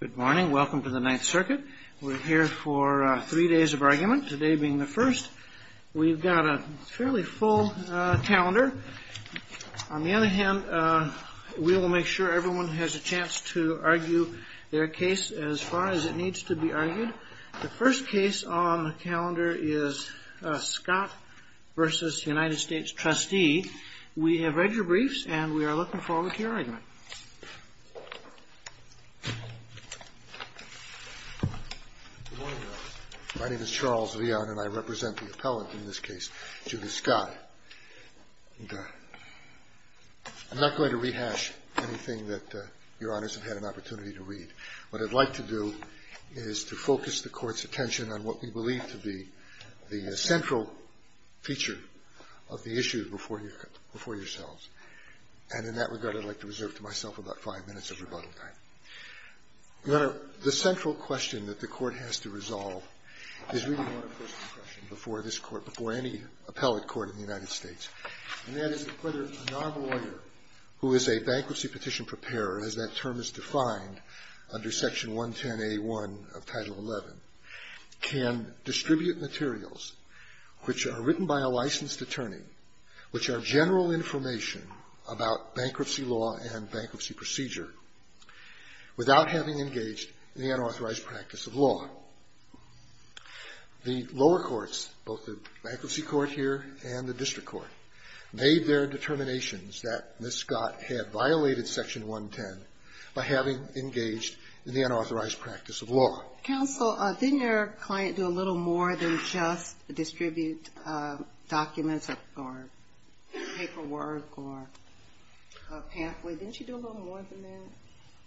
Good morning. Welcome to the Ninth Circuit. We're here for three days of argument, today being the first. We've got a fairly full calendar. On the other hand, we will make sure everyone has a chance to argue their case as far as it needs to be argued. The first case on the calendar is Scott v. United States Trustee. We have read your briefs and we are looking forward to your argument. My name is Charles Leon and I represent the appellant in this case, Julie Scott. I'm not going to rehash anything that Your Honors have had an opportunity to read. What I'd like to do is to focus the Court's attention on what we believe to be the central feature of the issue before yourselves. And in that regard, I'd like to reserve to myself about five minutes of rebuttal time. Your Honor, the central question that the Court has to resolve is really more a personal question before this Court, before any appellate court in the United States. And that is whether a nonlawyer who is a bankruptcy petition preparer, as that term is defined under Section 110a1 of Title XI, can distribute materials which are written by a licensed attorney, which are general information about bankruptcy law and bankruptcy procedure, without having engaged in the unauthorized practice of law. The lower courts, both the Bankruptcy Court here and the District Court, made their determinations that Ms. Scott had violated Section 110 by having engaged in the unauthorized practice of law. Counsel, didn't your client do a little more than just distribute documents or paperwork or a pathway? Didn't she do a little more than that?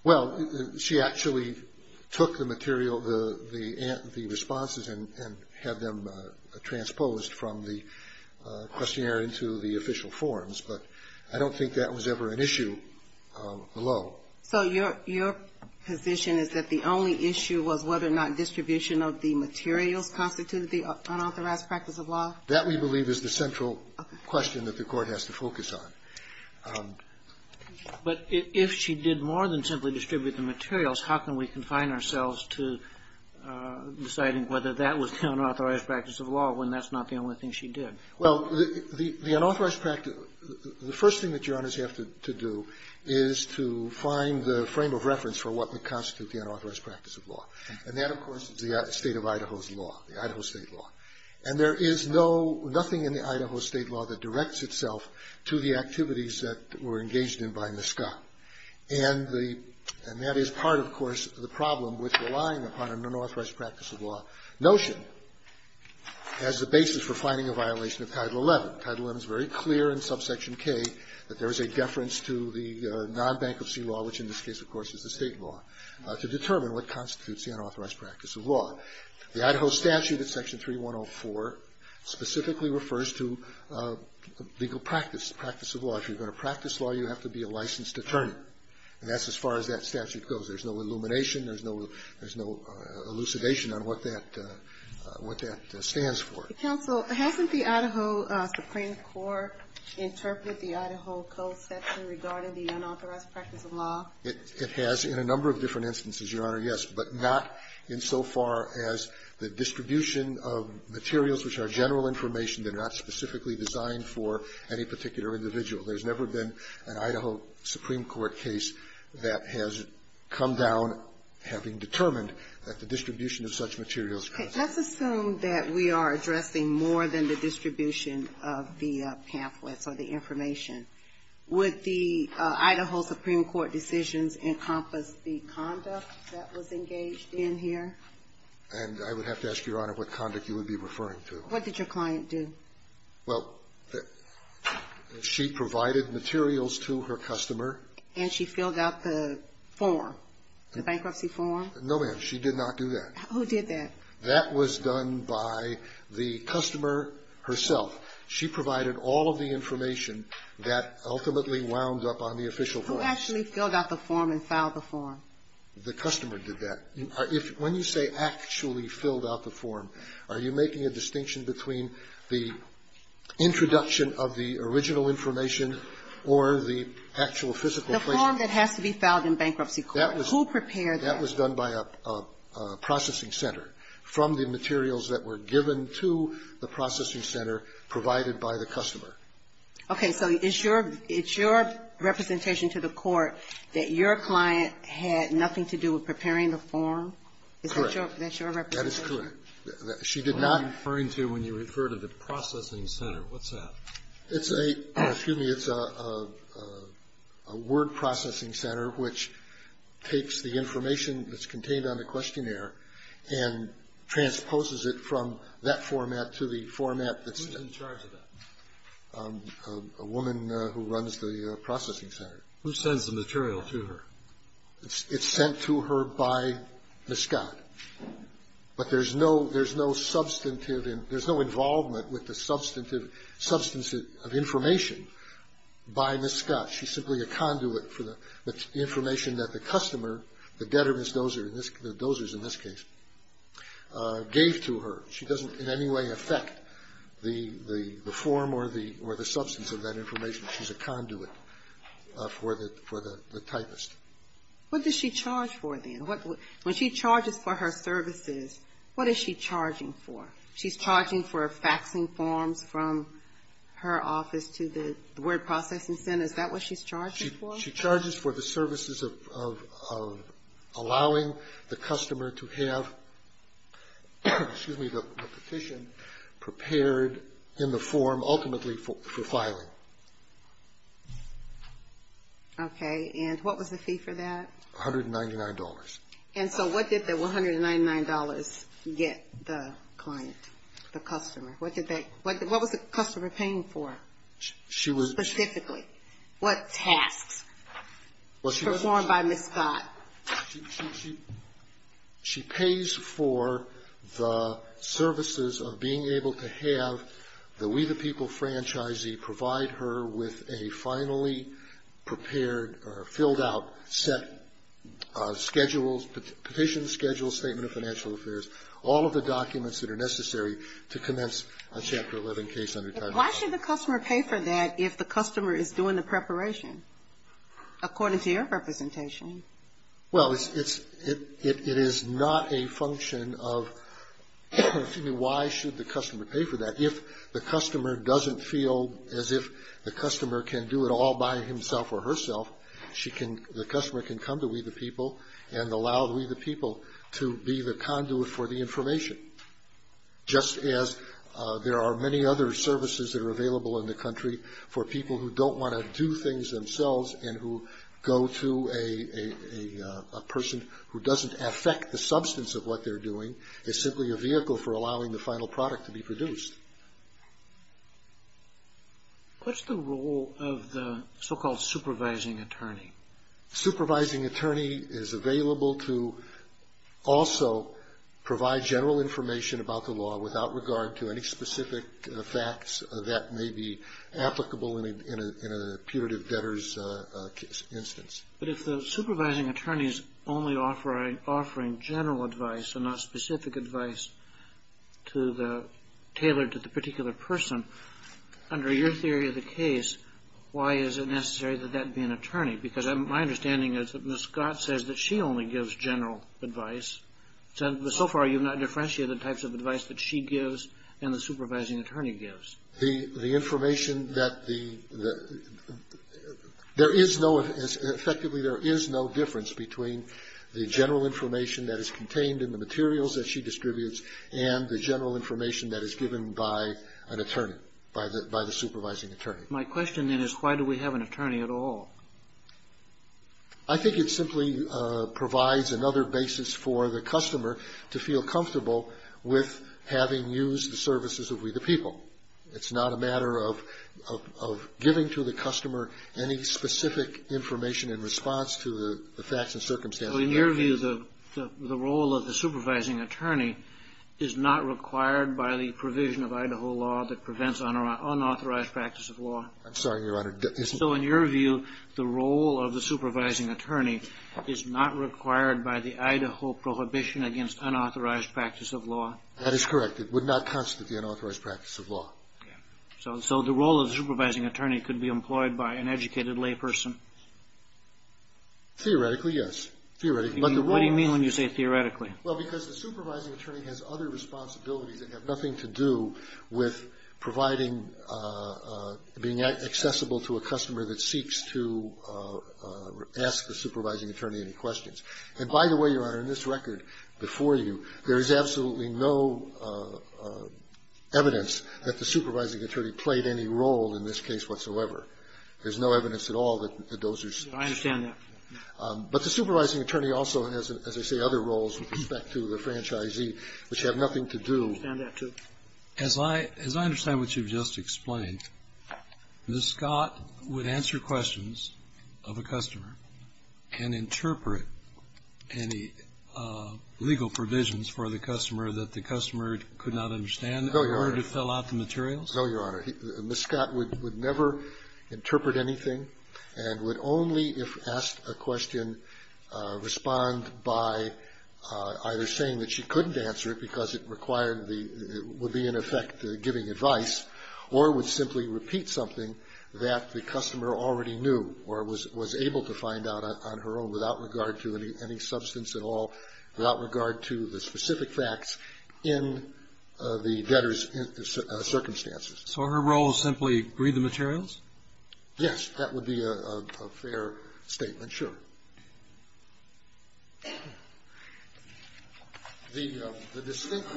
Well, she actually took the material, the responses, and had them transposed from the questionnaire into the official forms, but I don't think that was ever an issue below. So your position is that the only issue was whether or not distribution of the materials constituted the unauthorized practice of law? That, we believe, is the central question that the Court has to focus on. But if she did more than simply distribute the materials, how can we confine ourselves to deciding whether that was the unauthorized practice of law when that's not the only thing she did? Well, the unauthorized practice of law, the first thing that jurors have to do is to find the frame of reference for what would constitute the unauthorized practice of law, and that, of course, is the State of Idaho's law, the Idaho State law. And there is no, nothing in the Idaho State law that directs itself to the activities that were engaged in by Ms. Scott. And the – and that is part, of course, of the problem with relying upon an unauthorized practice of law notion as the basis for finding a violation of Title XI. Title XI is very clear in subsection K that there is a deference to the non-bankruptcy law, which in this case, of course, is the State law, to determine what constitutes the unauthorized practice of law. The Idaho statute at section 3104 specifically refers to legal practice, practice of law. If you're going to practice law, you have to be a licensed attorney. And that's as far as that statute goes. There's no illumination. There's no – there's no elucidation on what that – what that stands for. Sotomayor, hasn't the Idaho Supreme Court interpreted the Idaho Code section regarding the unauthorized practice of law? It has in a number of different instances, Your Honor, yes, but not insofar as the distribution of materials which are general information, they're not specifically designed for any particular individual. There's never been an Idaho Supreme Court case that has come down having determined that the distribution of such materials. Let's assume that we are addressing more than the distribution of the pamphlets or the information. Would the Idaho Supreme Court decisions encompass the conduct that was engaged in here? And I would have to ask, Your Honor, what conduct you would be referring to. What did your client do? Well, she provided materials to her customer. And she filled out the form, the bankruptcy form? No, ma'am. She did not do that. Who did that? That was done by the customer herself. She provided all of the information that ultimately wound up on the official form. Who actually filled out the form and filed the form? The customer did that. When you say actually filled out the form, are you making a distinction between the introduction of the original information or the actual physical placement? The form that has to be filed in bankruptcy court. Who prepared that? That was done by a processing center from the materials that were given to the processing center provided by the customer. Okay. So it's your representation to the court that your client had nothing to do with preparing the form? Correct. Is that your representation? That is correct. She did not. What are you referring to when you refer to the processing center? What's that? It's a, excuse me, it's a word processing center which takes the information that's contained on the questionnaire and transposes it from that format to the format that's. Who's in charge of that? A woman who runs the processing center. Who sends the material to her? It's sent to her by Ms. Scott. But there's no substantive, there's no involvement with the substantive substance of information by Ms. Scott. She's simply a conduit for the information that the customer, the debtor, Ms. Dozer, the Dozers in this case, gave to her. She doesn't in any way affect the form or the substance of that information. She's a conduit for the typist. What does she charge for then? When she charges for her services, what is she charging for? She's charging for faxing forms from her office to the word processing center. Is that what she's charging for? She charges for the services of allowing the customer to have, excuse me, the petition prepared in the form ultimately for filing. Okay. And what was the fee for that? $199. And so what did the $199 get the client, the customer? What was the customer paying for specifically? What tasks performed by Ms. Scott? She pays for the services of being able to have the We the People franchisee provide her with a finally prepared or filled out set schedules, petition schedule, statement of financial affairs, all of the documents that are necessary to commence a Chapter 11 case. Why should the customer pay for that if the customer is doing the preparation, according to your representation? Well, it is not a function of, excuse me, why should the customer pay for that, if the customer doesn't feel as if the customer can do it all by himself or herself. The customer can come to We the People and allow We the People to be the conduit for the information. Just as there are many other services that are available in the country for people who don't want to do things themselves and who go to a person who doesn't affect the substance of what they're doing, it's simply a vehicle for allowing the final product to be produced. What's the role of the so-called supervising attorney? Supervising attorney is available to also provide general information about the law without regard to any specific facts that may be applicable in a punitive debtor's instance. But if the supervising attorney is only offering general advice and not specific advice tailored to the particular person, under your theory of the case, why is it necessary that that be an attorney? Because my understanding is that Ms. Scott says that she only gives general advice. So far you've not differentiated the types of advice that she gives and the supervising attorney gives. The information that the – there is no – effectively there is no difference between the general information that is contained in the materials that she distributes and the general information that is given by an attorney, by the supervising attorney. My question then is why do we have an attorney at all? I think it simply provides another basis for the customer to feel comfortable with having used the services of We the People. It's not a matter of giving to the customer any specific information in response to the facts and circumstances. Well, in your view, the role of the supervising attorney is not required by the provision of Idaho law that prevents unauthorized practice of law? I'm sorry, Your Honor. So in your view, the role of the supervising attorney is not required by the Idaho prohibition against unauthorized practice of law? That is correct. It would not constitute the unauthorized practice of law. Okay. So the role of the supervising attorney could be employed by an educated layperson? Theoretically, yes. Theoretically. What do you mean when you say theoretically? Well, because the supervising attorney has other responsibilities that have nothing to do with providing – being accessible to a customer that seeks to ask the supervising attorney any questions. And by the way, Your Honor, in this record before you, there is absolutely no evidence that the supervising attorney played any role in this case whatsoever. There's no evidence at all that those are – I understand that. But the supervising attorney also has, as I say, other roles with respect to the franchisee, which have nothing to do – I understand that, too. As I – as I understand what you've just explained, Ms. Scott would answer questions of a customer and interpret any legal provisions for the customer that the customer could not understand in order to fill out the materials? No, Your Honor. No, Your Honor. Ms. Scott would never interpret anything and would only, if asked a question, respond by either saying that she couldn't answer it because it required the – would be, in effect, giving advice, or would simply repeat something that the customer already knew or was able to find out on her own without regard to any substance at all, without regard to the specific facts in the debtor's circumstances. So her role is simply read the materials? Yes. That would be a fair statement, sure. The distinct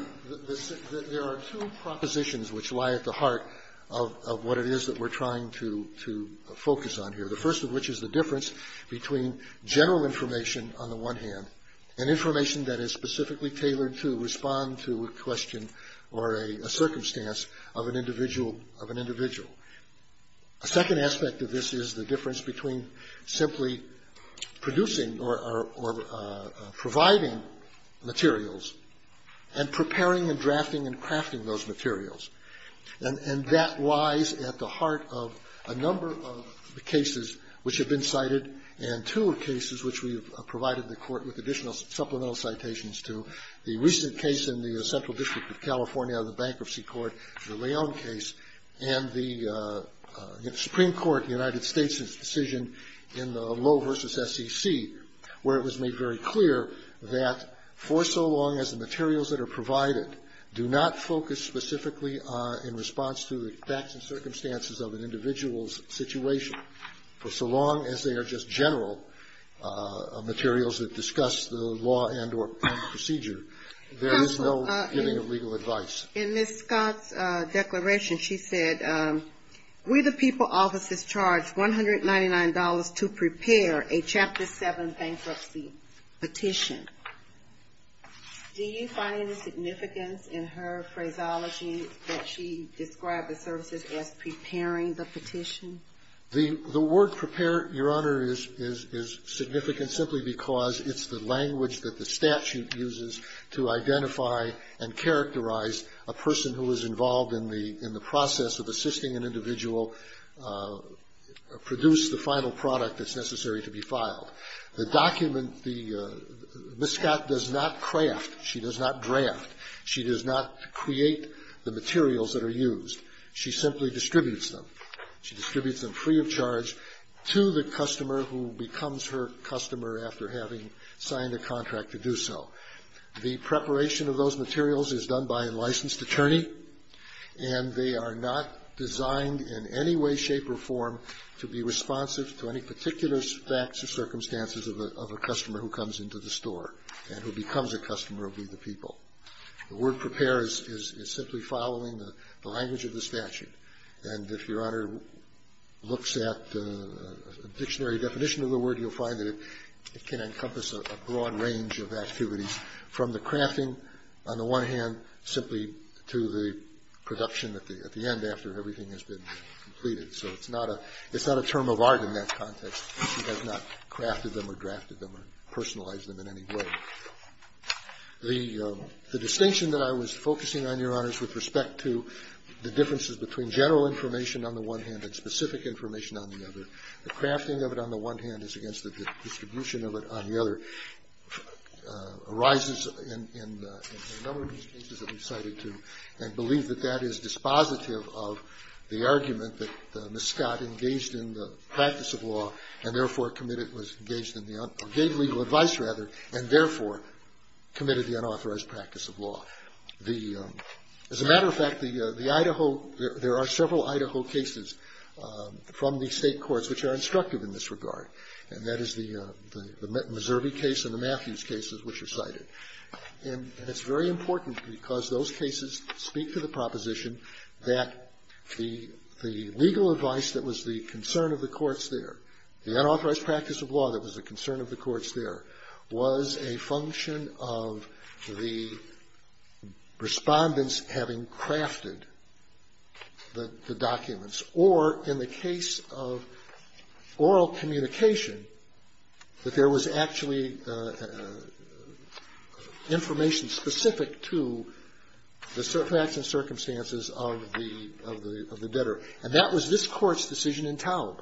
– there are two propositions which lie at the heart of what it is that we're trying to focus on here, the first of which is the difference between general information on the one hand and information that is specifically tailored to respond to a question or a circumstance of an individual. A second aspect of this is the difference between simply producing or providing materials and preparing and drafting and crafting those materials. And that lies at the heart of a number of the cases which have been cited and two cases which we have provided the Court with additional supplemental citations to, the recent case in the Central District of California out of the Bankruptcy Court, the Leon case, and the Supreme Court in the United States' decision in the Low v. SEC, where it was made very clear that for so long as the materials that are provided do not focus specifically in response to the facts and circumstances of an individual's situation, for so long as they are just general materials that discuss the law and or procedure, there is no giving of legal advice. Ms. Scott's declaration, she said, we the people officers charged $199 to prepare a Chapter 7 bankruptcy petition. Do you find any significance in her phraseology that she described the services as preparing the petition? The word prepare, Your Honor, is significant simply because it's the language that the statute uses to identify and characterize a person who is involved in the process of assisting an individual produce the final product that's necessary to be filed. The document the Ms. Scott does not craft. She does not draft. She does not create the materials that are used. She simply distributes them. She distributes them free of charge to the customer who becomes her customer after having signed a contract to do so. The preparation of those materials is done by a licensed attorney, and they are not designed in any way, shape or form to be responsive to any particular facts or circumstances of a customer who comes into the store and who becomes a customer of We the People. The word prepare is simply following the language of the statute. And if Your Honor looks at the dictionary definition of the word, you'll find that it can encompass a broad range of activities, from the crafting, on the one hand, simply to the production at the end after everything has been completed. So it's not a term of art in that context. She has not crafted them or drafted them or personalized them in any way. The distinction that I was focusing on, Your Honors, with respect to the differences between general information on the one hand and specific information on the other, the crafting of it on the one hand is against the distribution of it on the other, arises in a number of these cases that we've cited, too, and believe that that is dispositive of the argument that Ms. Scott engaged in the practice of law and, therefore, gave legal advice and, therefore, committed the unauthorized practice of law. As a matter of fact, there are several Idaho cases from the state courts which are instructive in this regard, and that is the Missouri case and the Matthews cases which are cited. And it's very important because those cases speak to the proposition that the legal advice that was the concern of the courts there, the unauthorized practice of law that was the concern of the courts there, was a function of the respondents having crafted the documents or, in the case of oral communication, that there was actually information specific to the facts and circumstances of the debtor. And that was this Court's decision in Taub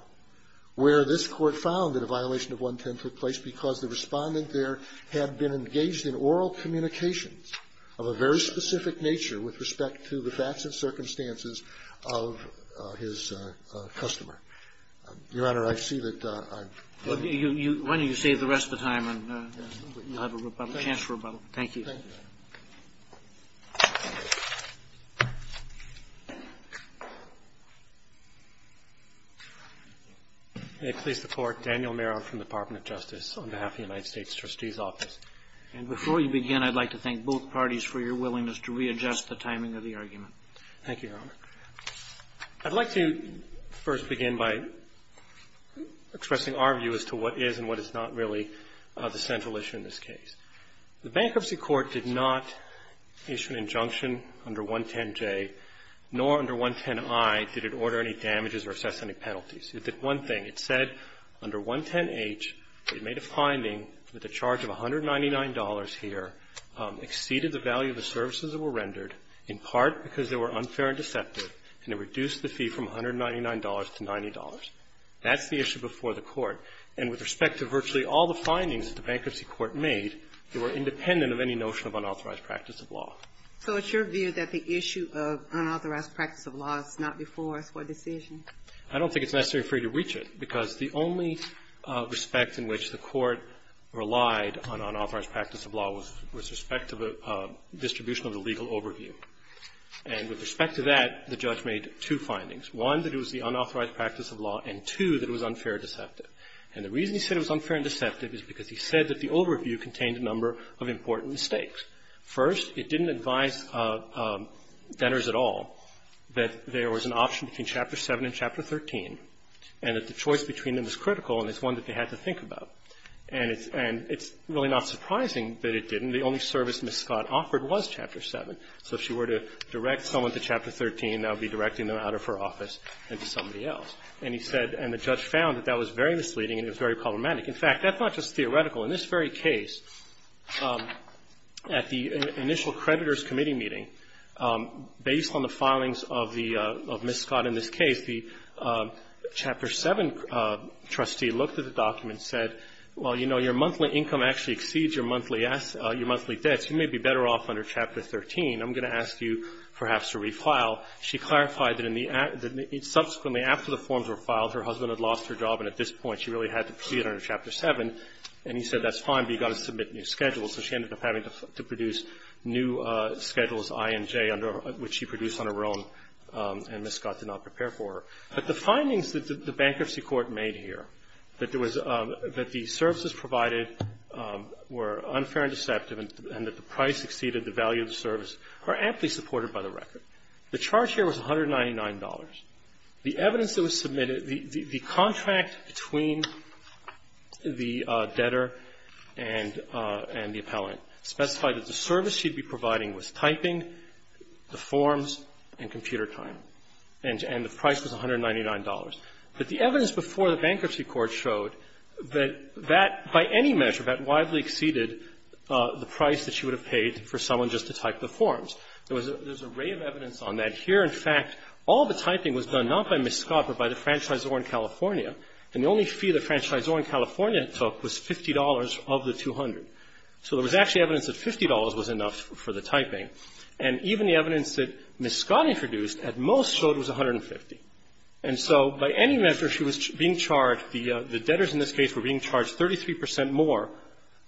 where this Court found that a violation of 110 took place because the Respondent there had been engaged in oral communications of a very specific nature with respect to the facts and circumstances of his customer. Your Honor, I see that I've been. Roberts. Why don't you save the rest of the time and you'll have a chance for rebuttal. Thank you. Thank you. May it please the Court. Daniel Meron from the Department of Justice on behalf of the United States Trustee's Office. And before you begin, I'd like to thank both parties for your willingness to readjust the timing of the argument. Thank you, Your Honor. I'd like to first begin by expressing our view as to what is and what is not really the central issue in this case. The Bankruptcy Court did not issue an injunction under 110J, nor under 110I did it order any damages or assess any penalties. It did one thing. It said under 110H, it made a finding that the charge of $199 here exceeded the value of the services that were rendered, in part because they were unfair and deceptive, and it reduced the fee from $199 to $90. That's the issue before the Court. And with respect to virtually all the findings that the Bankruptcy Court made, they were independent of any notion of unauthorized practice of law. So it's your view that the issue of unauthorized practice of law is not before us for a decision? I don't think it's necessary for you to reach it, because the only respect in which the Court relied on unauthorized practice of law was with respect to the distribution of the legal overview. And with respect to that, the judge made two findings, one, that it was the unauthorized practice of law, and two, that it was unfair and deceptive. And the reason he said it was unfair and deceptive is because he said that the overview contained a number of important mistakes. First, it didn't advise debtors at all that there was an option between Chapter 7 and Chapter 13, and that the choice between them is critical, and it's one that they had to think about. And it's really not surprising that it didn't. The only service Ms. Scott offered was Chapter 7. So if she were to direct someone to Chapter 13, that would be directing them out of her office and to somebody else. And he said, and the judge found that that was very misleading and it was very problematic. In fact, that's not just theoretical. In this very case, at the initial creditors' committee meeting, based on the filings of the Ms. Scott in this case, the Chapter 7 trustee looked at the document and said, well, you know, your monthly income actually exceeds your monthly debts. You may be better off under Chapter 13. I'm going to ask you perhaps to refile. She clarified that in the act that subsequently after the forms were filed, her husband had lost her job, and at this point she really had to proceed under Chapter 7. And he said, that's fine, but you've got to submit new schedules. So she ended up having to produce new schedules, I and J, which she produced on her own, and Ms. Scott did not prepare for her. But the findings that the bankruptcy court made here, that there was the services provided were unfair and deceptive, and that the price exceeded the value of the service, are aptly supported by the record. The charge here was $199. The evidence that was submitted, the contract between the debtor and the appellant specified that the service she'd be providing was typing, the forms, and computer time, and the price was $199. But the evidence before the bankruptcy court showed that that, by any measure, that widely exceeded the price that she would have paid for someone just to type the forms. There was an array of evidence on that. Here, in fact, all the typing was done not by Ms. Scott, but by the franchisor in California, and the only fee the franchisor in California took was $50 of the $200. So there was actually evidence that $50 was enough for the typing. And even the evidence that Ms. Scott introduced at most showed it was $150. And so by any measure, she was being charged, the debtors in this case were being charged 33 percent more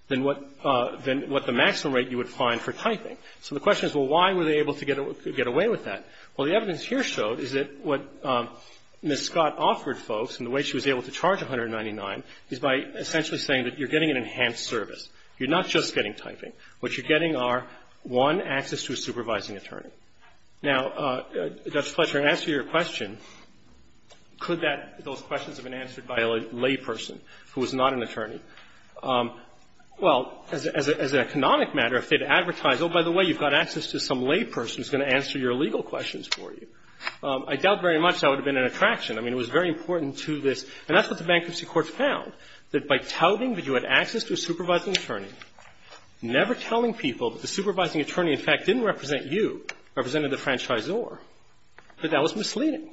than what the maximum rate you would find for typing. So the question is, well, why were they able to get away with that? Well, the evidence here showed is that what Ms. Scott offered folks in the way she was able to charge $199 is by essentially saying that you're getting an enhanced service. You're not just getting typing. What you're getting are, one, access to a supervising attorney. Now, Judge Fletcher, in answer to your question, could that, those questions have been answered by a layperson who is not an attorney? Well, as an economic matter, if they had advertised, oh, by the way, you've got access to some layperson who's going to answer your legal questions for you, I doubt very much that would have been an attraction. I mean, it was very important to this. And that's what the Bankruptcy Court found, that by touting that you had access to a supervising attorney, never telling people that the supervising attorney, in fact, didn't represent you, represented the franchisor, that that was misleading.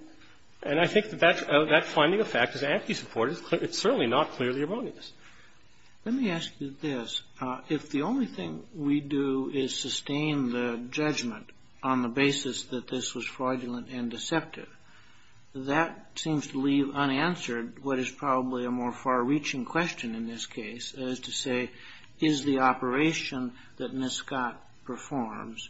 And I think that that finding of fact is aptly supported. It's certainly not clearly erroneous. Let me ask you this. If the only thing we do is sustain the judgment on the basis that this was fraudulent and deceptive, that seems to leave unanswered what is probably a more far-reaching question in this case, as to say, is the operation that Miscott performs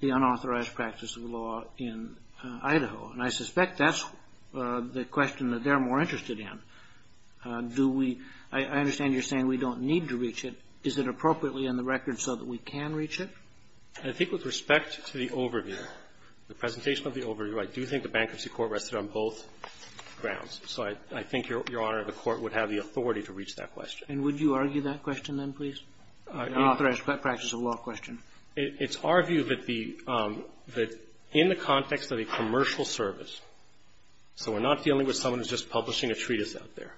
the unauthorized practice of law in Idaho? And I suspect that's the question that they're more interested in. Do we – I understand you're saying we don't need to reach it. Is it appropriately in the record so that we can reach it? I think with respect to the overview, the presentation of the overview, I do think the Bankruptcy Court rested on both grounds. So I think, Your Honor, the Court would have the authority to reach that question. And would you argue that question, then, please? The unauthorized practice of law question. It's our view that the – that in the context of a commercial service, so we're not dealing with someone who's just publishing a treatise out there.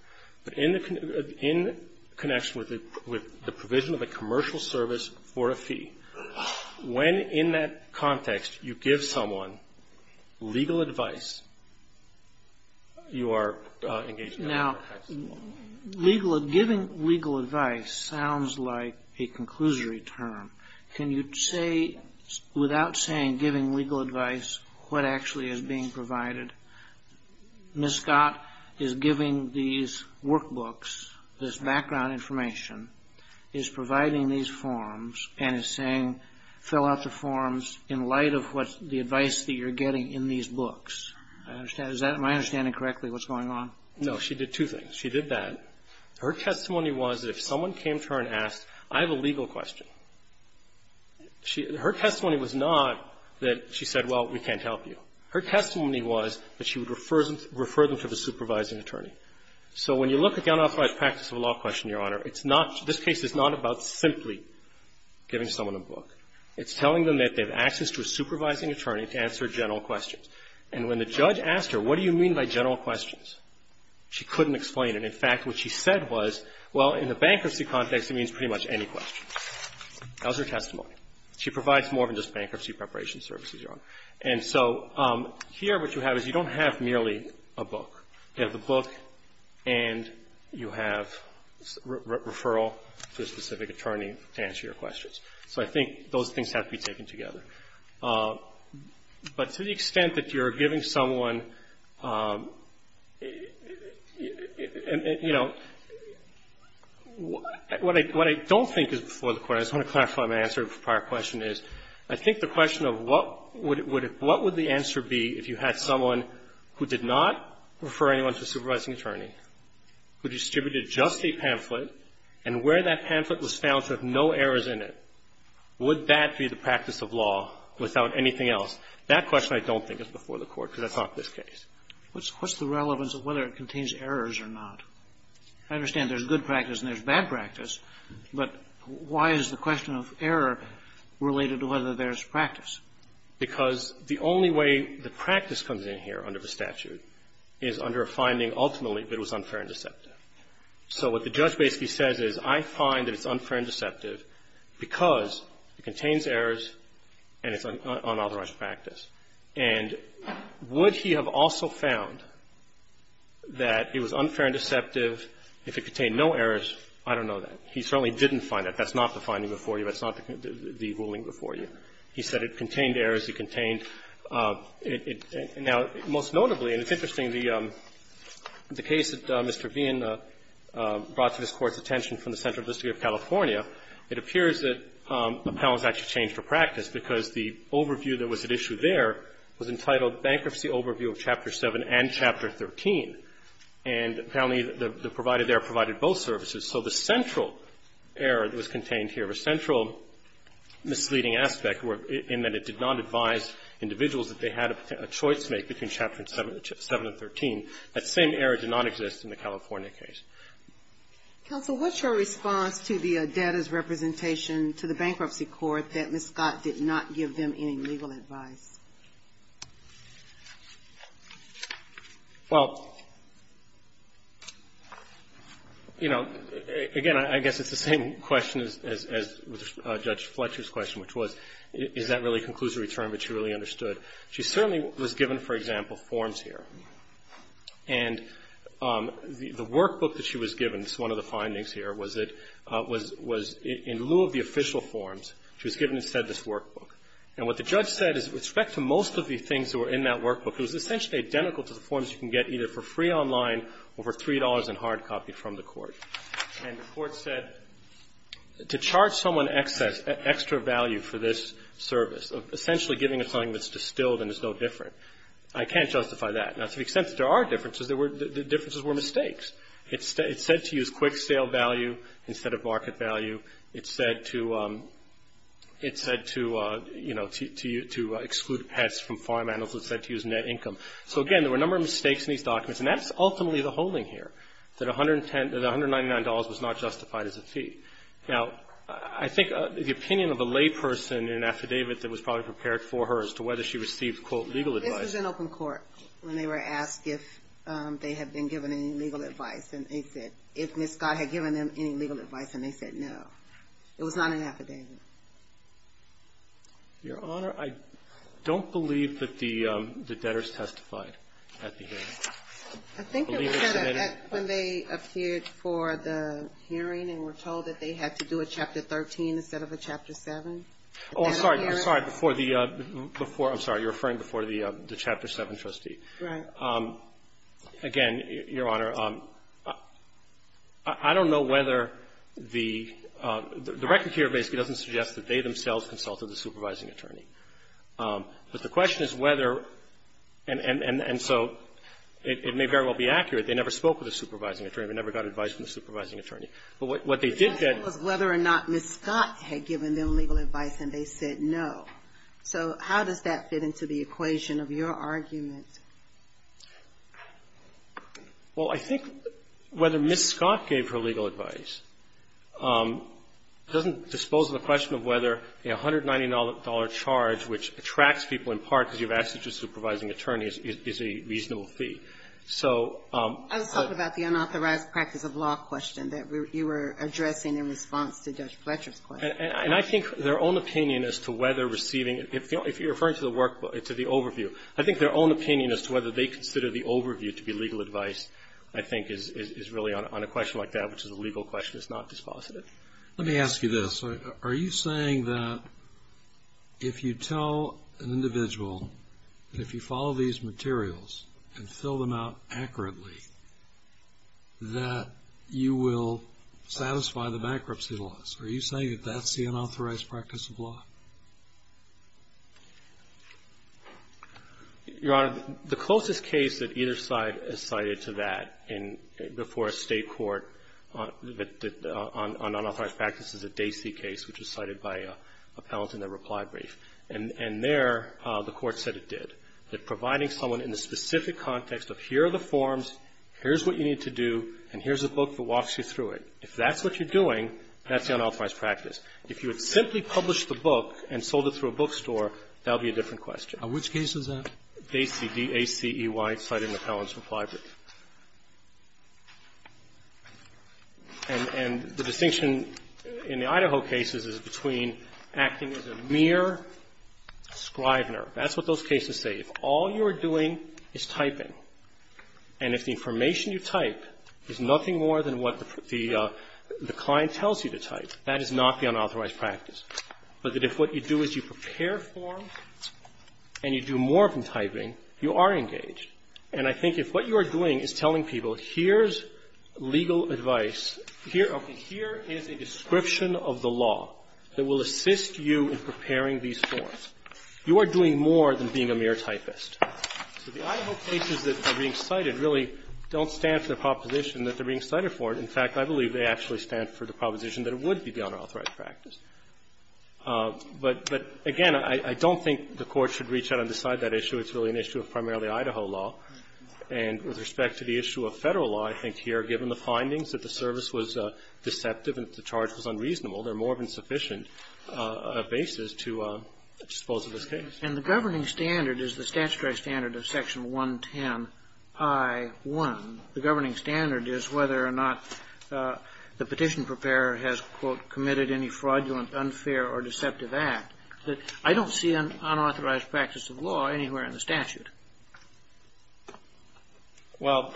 But in connection with the provision of a commercial service for a fee, when in that context you give someone legal advice, you are engaging in unauthorized practice of law. Now, giving legal advice sounds like a conclusory term. Can you say, without saying giving legal advice, what actually is being provided? Ms. Scott is giving these workbooks, this background information, is providing these forms and is saying, fill out the forms in light of what the advice that you're getting in these books. Am I understanding correctly what's going on? No. She did two things. She did that. Her testimony was that if someone came to her and asked, I have a legal question, she – her testimony was not that she said, well, we can't help you. Her testimony was that she would refer them to the supervising attorney. So when you look at the unauthorized practice of law question, Your Honor, it's not – this case is not about simply giving someone a book. It's telling them that they have access to a supervising attorney to answer general questions. And when the judge asked her, what do you mean by general questions, she couldn't explain it. In fact, what she said was, well, in the bankruptcy context, it means pretty much any question. That was her testimony. She provides more than just bankruptcy preparation services, Your Honor. And so here what you have is you don't have merely a book. You have the book and you have referral to a specific attorney to answer your questions. So I think those things have to be taken together. But to the extent that you're giving someone, you know, what I don't think is before the Court, I just want to clarify my answer to a prior question, is I think the question of what would the answer be if you had someone who did not refer anyone to a supervising attorney, who distributed just a pamphlet, and where that pamphlet was found to have no errors in it. Would that be the practice of law without anything else? That question I don't think is before the Court, because that's not this case. What's the relevance of whether it contains errors or not? I understand there's good practice and there's bad practice, but why is the question of error related to whether there's practice? Because the only way the practice comes in here under the statute is under a finding ultimately that it was unfair and deceptive. So what the judge basically says is, I find that it's unfair and deceptive because it contains errors and it's unauthorized practice. And would he have also found that it was unfair and deceptive if it contained no errors? I don't know that. He certainly didn't find that. That's not the finding before you. That's not the ruling before you. He said it contained errors. He contained it. Now, most notably, and it's interesting, the case that Mr. Veehan brought to this Court's attention from the Central District of California, it appears that apparently it was actually changed for practice, because the overview that was at issue there was entitled Bankruptcy Overview of Chapter 7 and Chapter 13. And apparently the provider there provided both services. So the central error that was contained here, the central misleading aspect in that it did not advise individuals that they had a choice to make between Chapter 7 and 13, that same error did not exist in the California case. Counsel, what's your response to the data's representation to the Bankruptcy Court that Ms. Scott did not give them any legal advice? Well, you know, again, I guess it's the same question as Judge Fletcher's question, which was, is that really conclusive return, but she really understood. She certainly was given, for example, forms here. And the workbook that she was given, it's one of the findings here, was that it was in lieu of the official forms, she was given instead this workbook. And what the judge said is with respect to most of the things that were in that workbook, it was essentially identical to the forms you can get either for free online or for $3 and hard copy from the Court. And the Court said to charge someone extra value for this service, essentially giving them something that's distilled and is no different, I can't justify that. Now, to the extent that there are differences, the differences were mistakes. It's said to use quick sale value instead of market value. It's said to, you know, to exclude pets from farm animals. It's said to use net income. So, again, there were a number of mistakes in these documents. And that's ultimately the holding here, that $199 was not justified as a fee. Now, I think the opinion of a layperson in an affidavit that was probably prepared for her as to whether she received, quote, legal advice. This was in open court when they were asked if they had been given any legal advice. And they said, if Ms. Scott had given them any legal advice, and they said no. It was not an affidavit. Your Honor, I don't believe that the debtors testified at the hearing. I believe it was when they appeared for the hearing and were told that they had to do a Chapter 13 instead of a Chapter 7. Oh, I'm sorry. I'm sorry. Before the – I'm sorry. You're referring before the Chapter 7 trustee. Right. Again, Your Honor, I don't know whether the – the record here basically doesn't suggest that they themselves consulted the supervising attorney. But the question is whether – and so it may very well be accurate. They never spoke with a supervising attorney. They never got advice from the supervising attorney. But what they did get – The question was whether or not Ms. Scott had given them legal advice, and they said no. So how does that fit into the equation of your argument? Well, I think whether Ms. Scott gave her legal advice doesn't dispose of the question of whether a $190 charge, which attracts people in part because you've asked it to a supervising attorney, is a reasonable fee. So – I was talking about the unauthorized practice of law question that you were addressing in response to Judge Fletcher's question. And I think their own opinion as to whether receiving – if you're referring to the overview, I think their own opinion as to whether they consider the overview to be legal advice, I think, is really on a question like that, which is a legal question. It's not dispositive. Let me ask you this. Are you saying that if you tell an individual that if you follow these materials and fill them out accurately that you will satisfy the bankruptcy laws? Your Honor, the closest case that either side has cited to that in – before a State court on unauthorized practice is the Dacey case, which was cited by appellants in their reply brief. And there the Court said it did, that providing someone in the specific context of here are the forms, here's what you need to do, and here's a book that walks you through it. If that's what you're doing, that's the unauthorized practice. If you had simply published the book and sold it through a bookstore, that would be a different question. And which case is that? Dacey, D-A-C-E-Y, cited in the appellant's reply brief. And the distinction in the Idaho cases is between acting as a mere scrivener. That's what those cases say. If all you're doing is typing, and if the information you type is nothing more than what the client tells you to type, that is not the unauthorized practice. But that if what you do is you prepare forms and you do more than typing, you are engaged. And I think if what you are doing is telling people here's legal advice, here is a description of the law that will assist you in preparing these forms, you are doing more than being a mere typist. So the Idaho cases that are being cited really don't stand for the proposition that they're being cited for it. In fact, I believe they actually stand for the proposition that it would be the unauthorized practice. But again, I don't think the Court should reach out and decide that issue. It's really an issue of primarily Idaho law. And with respect to the issue of Federal law, I think here, given the findings that the service was deceptive and the charge was unreasonable, there are more than sufficient bases to dispose of this case. And the governing standard is the statutory standard of Section 110I1. The governing standard is whether or not the petition preparer has, quote, committed any fraudulent, unfair, or deceptive act. I don't see an unauthorized practice of law anywhere in the statute. Well,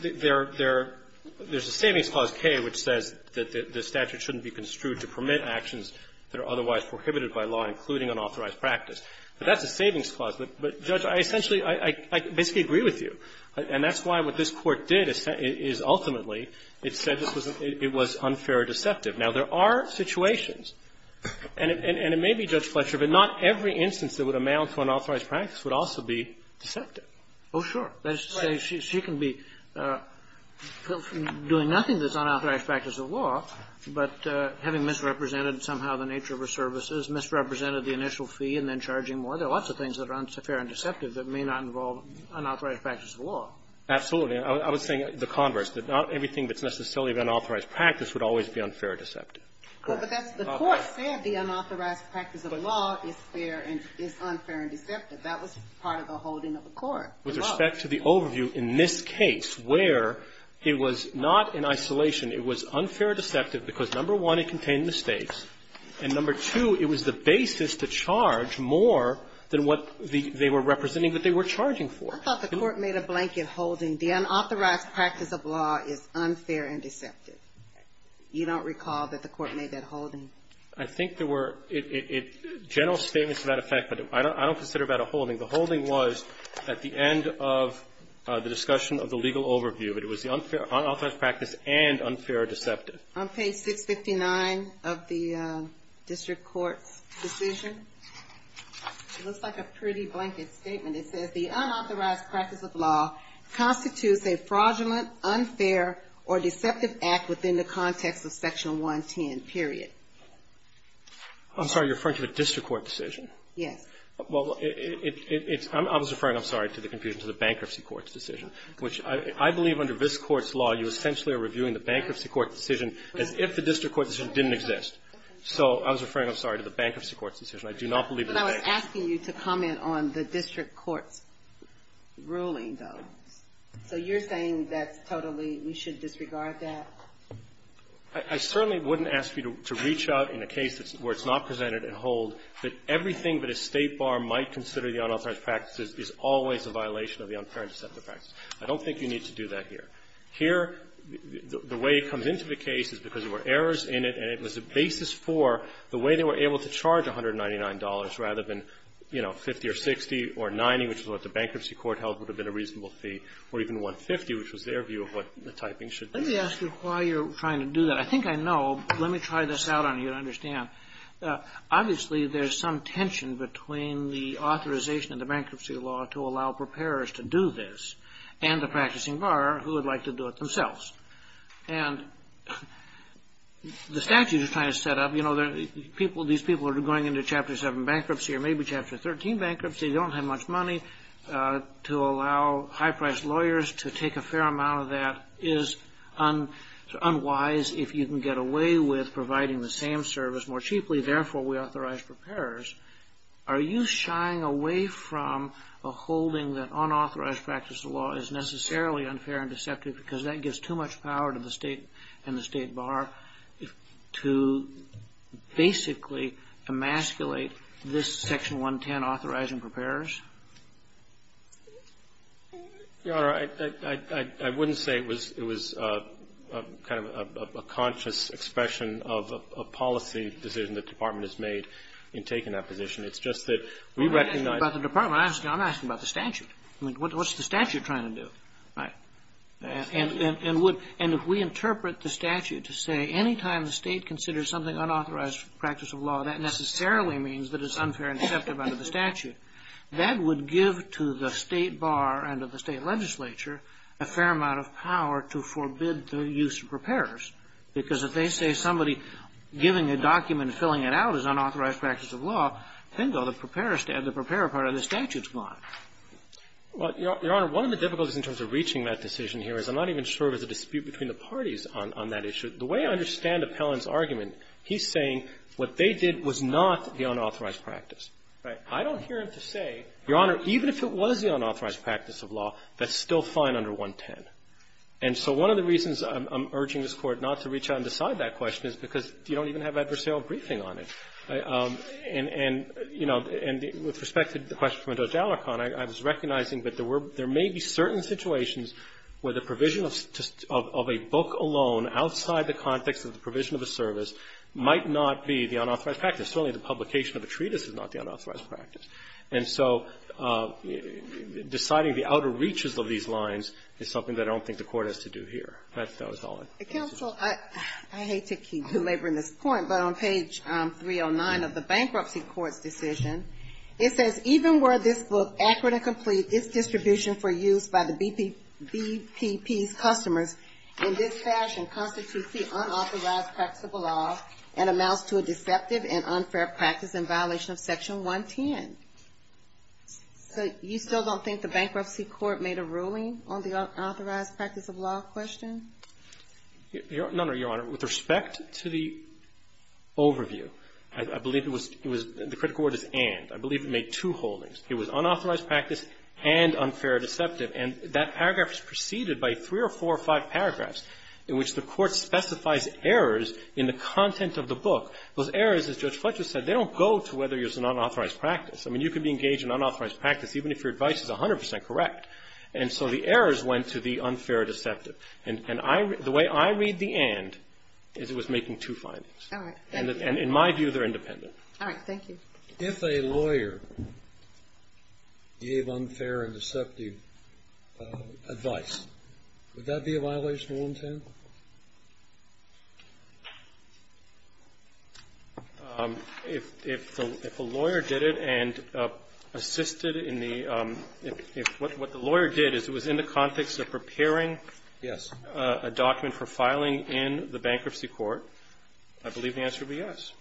there's a Savings Clause K which says that the statute shouldn't be construed to permit actions that are otherwise prohibited by law, including unauthorized practice. But that's a savings clause. But, Judge, I essentially, I basically agree with you. And that's why what this Court did is ultimately it said it was unfair or deceptive. Now, there are situations, and it may be, Judge Fletcher, but not every instance that would amount to unauthorized practice would also be deceptive. Oh, sure. That is to say, she can be doing nothing that's unauthorized practice of law, but having misrepresented somehow the nature of her services, misrepresented the initial fee, and then charging more, there are lots of things that are unfair and deceptive that may not involve unauthorized practice of law. Absolutely. I was saying the converse, that not everything that's necessarily of unauthorized practice would always be unfair or deceptive. The Court said the unauthorized practice of law is fair and is unfair and deceptive. That was part of the holding of the Court. With respect to the overview, in this case where it was not in isolation, it was unfair or deceptive because, number one, it contained mistakes, and, number two, it was the basis to charge more than what they were representing that they were charging for. I thought the Court made a blanket holding the unauthorized practice of law is unfair and deceptive. You don't recall that the Court made that holding? I think there were general statements to that effect, but I don't consider that a holding. The holding was at the end of the discussion of the legal overview. It was the unauthorized practice and unfair or deceptive. On page 659 of the district court's decision, it looks like a pretty blanket statement. It says, the unauthorized practice of law constitutes a fraudulent, unfair, or deceptive practice in the context of Section 110, period. I'm sorry. You're referring to the district court decision? Yes. Well, I was referring, I'm sorry, to the confusion, to the bankruptcy court's decision, which I believe under this Court's law, you essentially are reviewing the bankruptcy court's decision as if the district court's decision didn't exist. So I was referring, I'm sorry, to the bankruptcy court's decision. I do not believe the bankruptcy court's decision. But I was asking you to comment on the district court's ruling, though. So you're saying that's totally, we should disregard that? I certainly wouldn't ask you to reach out in a case where it's not presented at hold that everything that a State bar might consider the unauthorized practice is always a violation of the unfair and deceptive practice. I don't think you need to do that here. Here, the way it comes into the case is because there were errors in it, and it was a basis for the way they were able to charge $199 rather than, you know, 50 or 60 or 90, which is what the bankruptcy court held would have been a reasonable fee, or even 150, which was their view of what the typing should be. Let me ask you why you're trying to do that. I think I know. Let me try this out on you to understand. Obviously, there's some tension between the authorization of the bankruptcy law to allow preparers to do this and the practicing bar who would like to do it themselves. And the statute is trying to set up, you know, people, these people are going into Chapter 7 bankruptcy or maybe Chapter 13 bankruptcy. They don't have much money. To allow high-priced lawyers to take a fair amount of that is unwise if you can get away with providing the same service more cheaply. Therefore, we authorize preparers. Are you shying away from a holding that unauthorized practice of law is necessarily unfair and deceptive because that gives too much power to the State and the State bar to basically emasculate this Section 110 authorizing preparers? Your Honor, I wouldn't say it was kind of a conscious expression of a policy decision the Department has made in taking that position. It's just that we recognize the statute. What's the statute trying to do? Right. And if we interpret the statute to say any time the State considers something unauthorized practice of law, that necessarily means that it's unfair and deceptive under the statute. That would give to the State bar and to the State legislature a fair amount of power to forbid the use of preparers because if they say somebody giving a document and filling it out is unauthorized practice of law, bingo, the preparer part of the statute is gone. Well, Your Honor, one of the difficulties in terms of reaching that decision here is I'm not even sure there's a dispute between the parties on that issue. The way I understand Appellant's argument, he's saying what they did was not the unauthorized practice. Right. I don't hear him to say, Your Honor, even if it was the unauthorized practice of law, that's still fine under 110. And so one of the reasons I'm urging this Court not to reach out and decide that question is because you don't even have adversarial briefing on it. And, you know, with respect to the question from Judge Alicorn, I was recognizing that there may be certain situations where the provision of a book alone outside the context of the provision of a service might not be the unauthorized practice. Certainly the publication of a treatise is not the unauthorized practice. And so deciding the outer reaches of these lines is something that I don't think the Court has to do here. That's all I can say. Counsel, I hate to keep delivering this point, but on page 309 of the Bankruptcy Court's decision, it says, even were this book accurate and complete, its distribution for use by the BPP's customers in this fashion constitutes the unauthorized practice of law and amounts to a deceptive and unfair practice in violation of Section 110. So you still don't think the Bankruptcy Court made a ruling on the unauthorized practice of law question? None, Your Honor. With respect to the overview, I believe it was the critical word is and. I believe it made two holdings. It was unauthorized practice and unfair and deceptive. And that paragraph is preceded by three or four or five paragraphs in which the Court specifies errors in the content of the book. Those errors, as Judge Fletcher said, they don't go to whether there's an unauthorized practice. I mean, you can be engaged in unauthorized practice even if your advice is 100 percent correct. And so the errors went to the unfair and deceptive. And the way I read the and is it was making two findings. All right. And in my view, they're independent. All right. Thank you. If a lawyer gave unfair and deceptive advice, would that be a violation of 110? If a lawyer did it and assisted in the – if what the lawyer did is it was in the context of preparing a document for filing in the bankruptcy court, I believe the answer would be yes.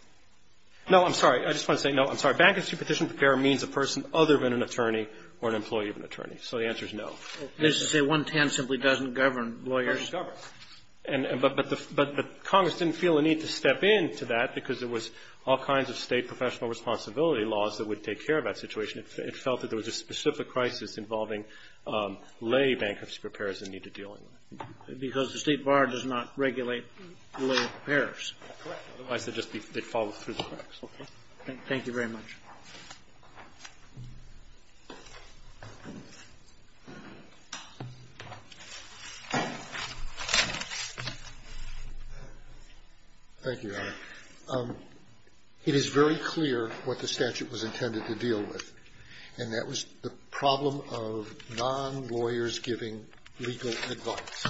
No, I'm sorry. I just want to say no. I'm sorry. Bankruptcy petition preparer means a person other than an attorney or an employee of an attorney. So the answer is no. And this is a 110 simply doesn't govern lawyers? It doesn't govern. But Congress didn't feel a need to step in to that because there was all kinds of state professional responsibility laws that would take care of that situation. It felt that there was a specific crisis involving lay bankruptcy preparers and need to deal with it. Because the State Bar does not regulate lay preparers. Correct. Otherwise, they'd fall through the cracks. Okay. Thank you very much. Thank you, Your Honor. It is very clear what the statute was intended to deal with. And that was the problem of non-lawyers giving legal advice.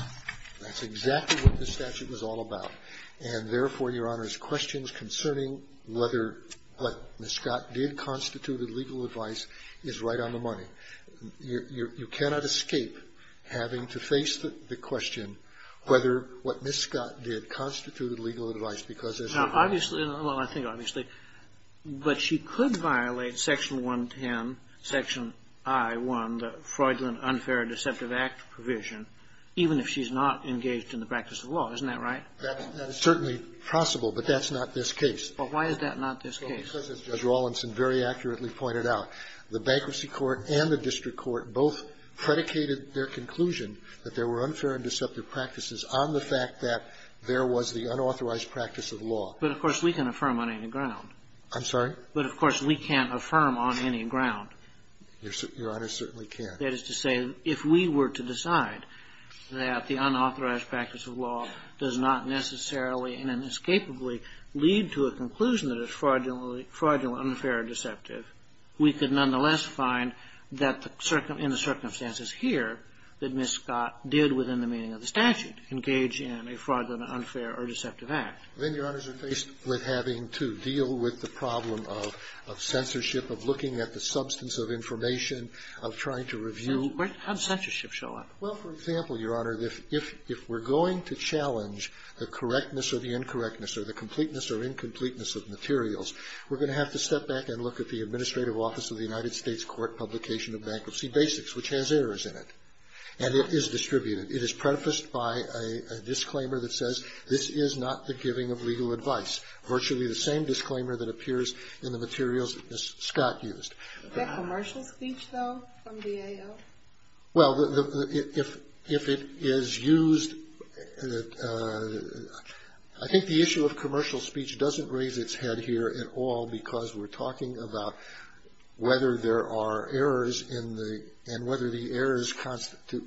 That's exactly what this statute was all about. And therefore, Your Honor, questions concerning whether what Ms. Scott did constitute legal advice is right on the money. You cannot escape having to face the question whether what Ms. Scott did constituted legal advice because, as you know. Obviously, well, I think obviously. But she could violate Section 110, Section I-1, the Freudland Unfair Deceptive Act provision, even if she's not engaged in the practice of law. Isn't that right? That is certainly possible. But that's not this case. But why is that not this case? Because, as Judge Rawlinson very accurately pointed out, the bankruptcy court and the district court both predicated their conclusion that there were unfair and deceptive practices on the fact that there was the unauthorized practice of law. But, of course, we can affirm on any ground. I'm sorry? But, of course, we can't affirm on any ground. Your Honor, certainly can't. That is to say, if we were to decide that the unauthorized practice of law does not necessarily and inescapably lead to a conclusion that it's fraudulently unfair or deceptive, we could nonetheless find that in the circumstances here that Ms. Scott did within the meaning of the statute, engage in a fraudulent unfair or deceptive act. Then, Your Honors, we're faced with having to deal with the problem of censorship, of looking at the substance of information, of trying to review. How does censorship show up? Well, for example, Your Honor, if we're going to challenge the correctness or the incorrectness or the completeness or incompleteness of materials, we're going to have to step back and look at the Administrative Office of the United States Court Publication of Bankruptcy Basics, which has errors in it. And it is distributed. It is prefaced by a disclaimer that says, This is not the giving of legal advice. Virtually the same disclaimer that appears in the materials that Ms. Scott used. Is that commercial speech, though, from DAO? Well, if it is used, I think the issue of commercial speech doesn't raise its head here at all because we're talking about whether there are errors and whether the errors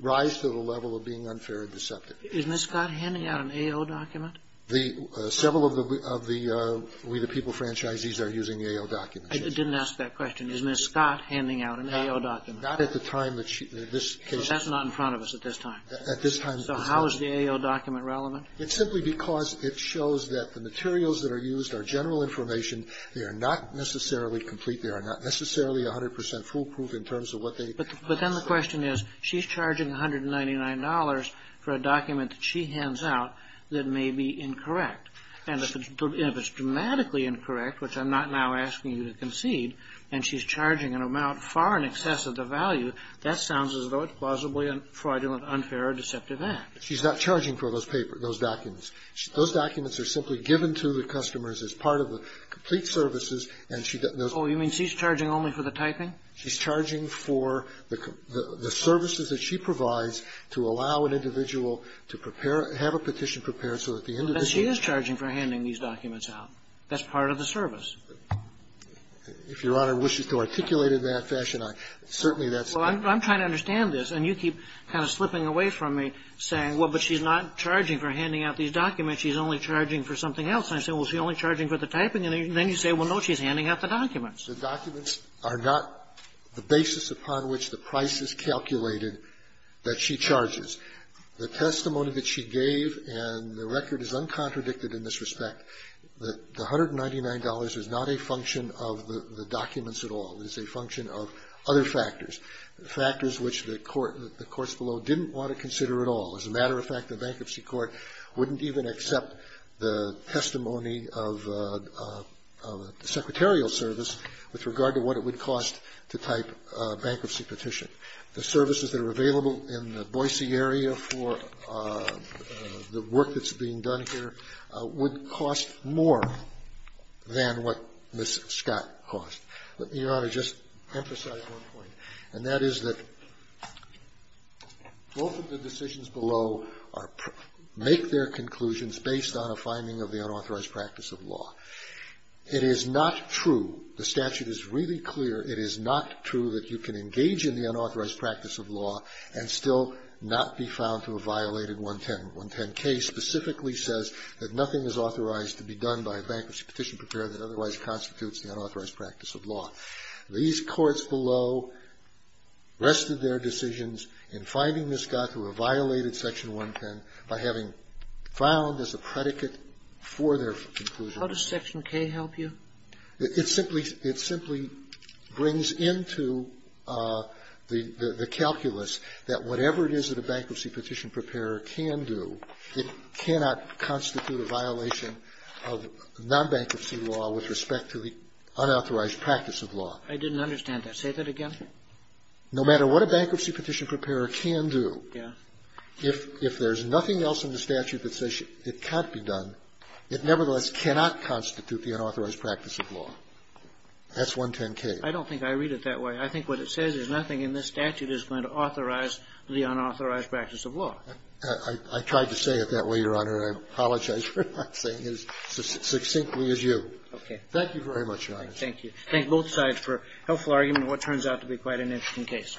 rise to the level of being unfair or deceptive. Is Ms. Scott handing out an AO document? Several of the We the People franchisees are using AO documents. I didn't ask that question. Is Ms. Scott handing out an AO document? Not at the time that she, in this case. That's not in front of us at this time. At this time. So how is the AO document relevant? It's simply because it shows that the materials that are used are general information. They are not necessarily complete. They are not necessarily 100 percent foolproof in terms of what they. But then the question is, she's charging $199 for a document that she hands out that may be incorrect. And if it's dramatically incorrect, which I'm not now asking you to concede, and she's charging an amount far in excess of the value, that sounds as though it's plausibly a fraudulent, unfair, or deceptive act. She's not charging for those documents. Those documents are simply given to the customers as part of the complete services, and she doesn't. Oh, you mean she's charging only for the typing? She's charging for the services that she provides to allow an individual to prepare to have a petition prepared so that the individual. But she is charging for handing these documents out. That's part of the service. If Your Honor wishes to articulate it in that fashion, certainly that's the case. Well, I'm trying to understand this, and you keep kind of slipping away from me saying, well, but she's not charging for handing out these documents. She's only charging for something else. And I say, well, she's only charging for the typing. And then you say, well, no, she's handing out the documents. The documents are not the basis upon which the price is calculated that she charges. The testimony that she gave and the record is uncontradicted in this respect. The $199 is not a function of the documents at all. It is a function of other factors, factors which the courts below didn't want to consider at all. As a matter of fact, the bankruptcy court wouldn't even accept the testimony of the secretarial service with regard to what it would cost to type a bankruptcy petition. The services that are available in the Boise area for the work that's being done here would cost more than what Ms. Scott cost. Let me, Your Honor, just emphasize one point, and that is that both of the decisions below are per make their conclusions based on a finding of the unauthorized practice of law. It is not true, the statute is really clear, it is not true that you can engage in the unauthorized practice of law and still not be found to have violated Section 110. 110K specifically says that nothing is authorized to be done by a bankruptcy petition preparer that otherwise constitutes the unauthorized practice of law. These courts below rested their decisions in finding Ms. Scott who had violated Section 110 by having found as a predicate for their conclusion. Sotomayor, how does Section K help you? It simply brings into the calculus that whatever it is that a bankruptcy petition preparer can do, it cannot constitute a violation of nonbankruptcy law with respect to the unauthorized practice of law. I didn't understand that. Say that again. No matter what a bankruptcy petition preparer can do, if there's nothing else in the statute that says it can't be done, it nevertheless cannot constitute the unauthorized practice of law. That's 110K. I don't think I read it that way. I think what it says is nothing in this statute is going to authorize the unauthorized practice of law. I tried to say it that way, Your Honor, and I apologize for not saying it as succinctly as you. Okay. Thank you very much, Your Honor. Thank you. Thank both sides for a helpful argument in what turns out to be quite an interesting case.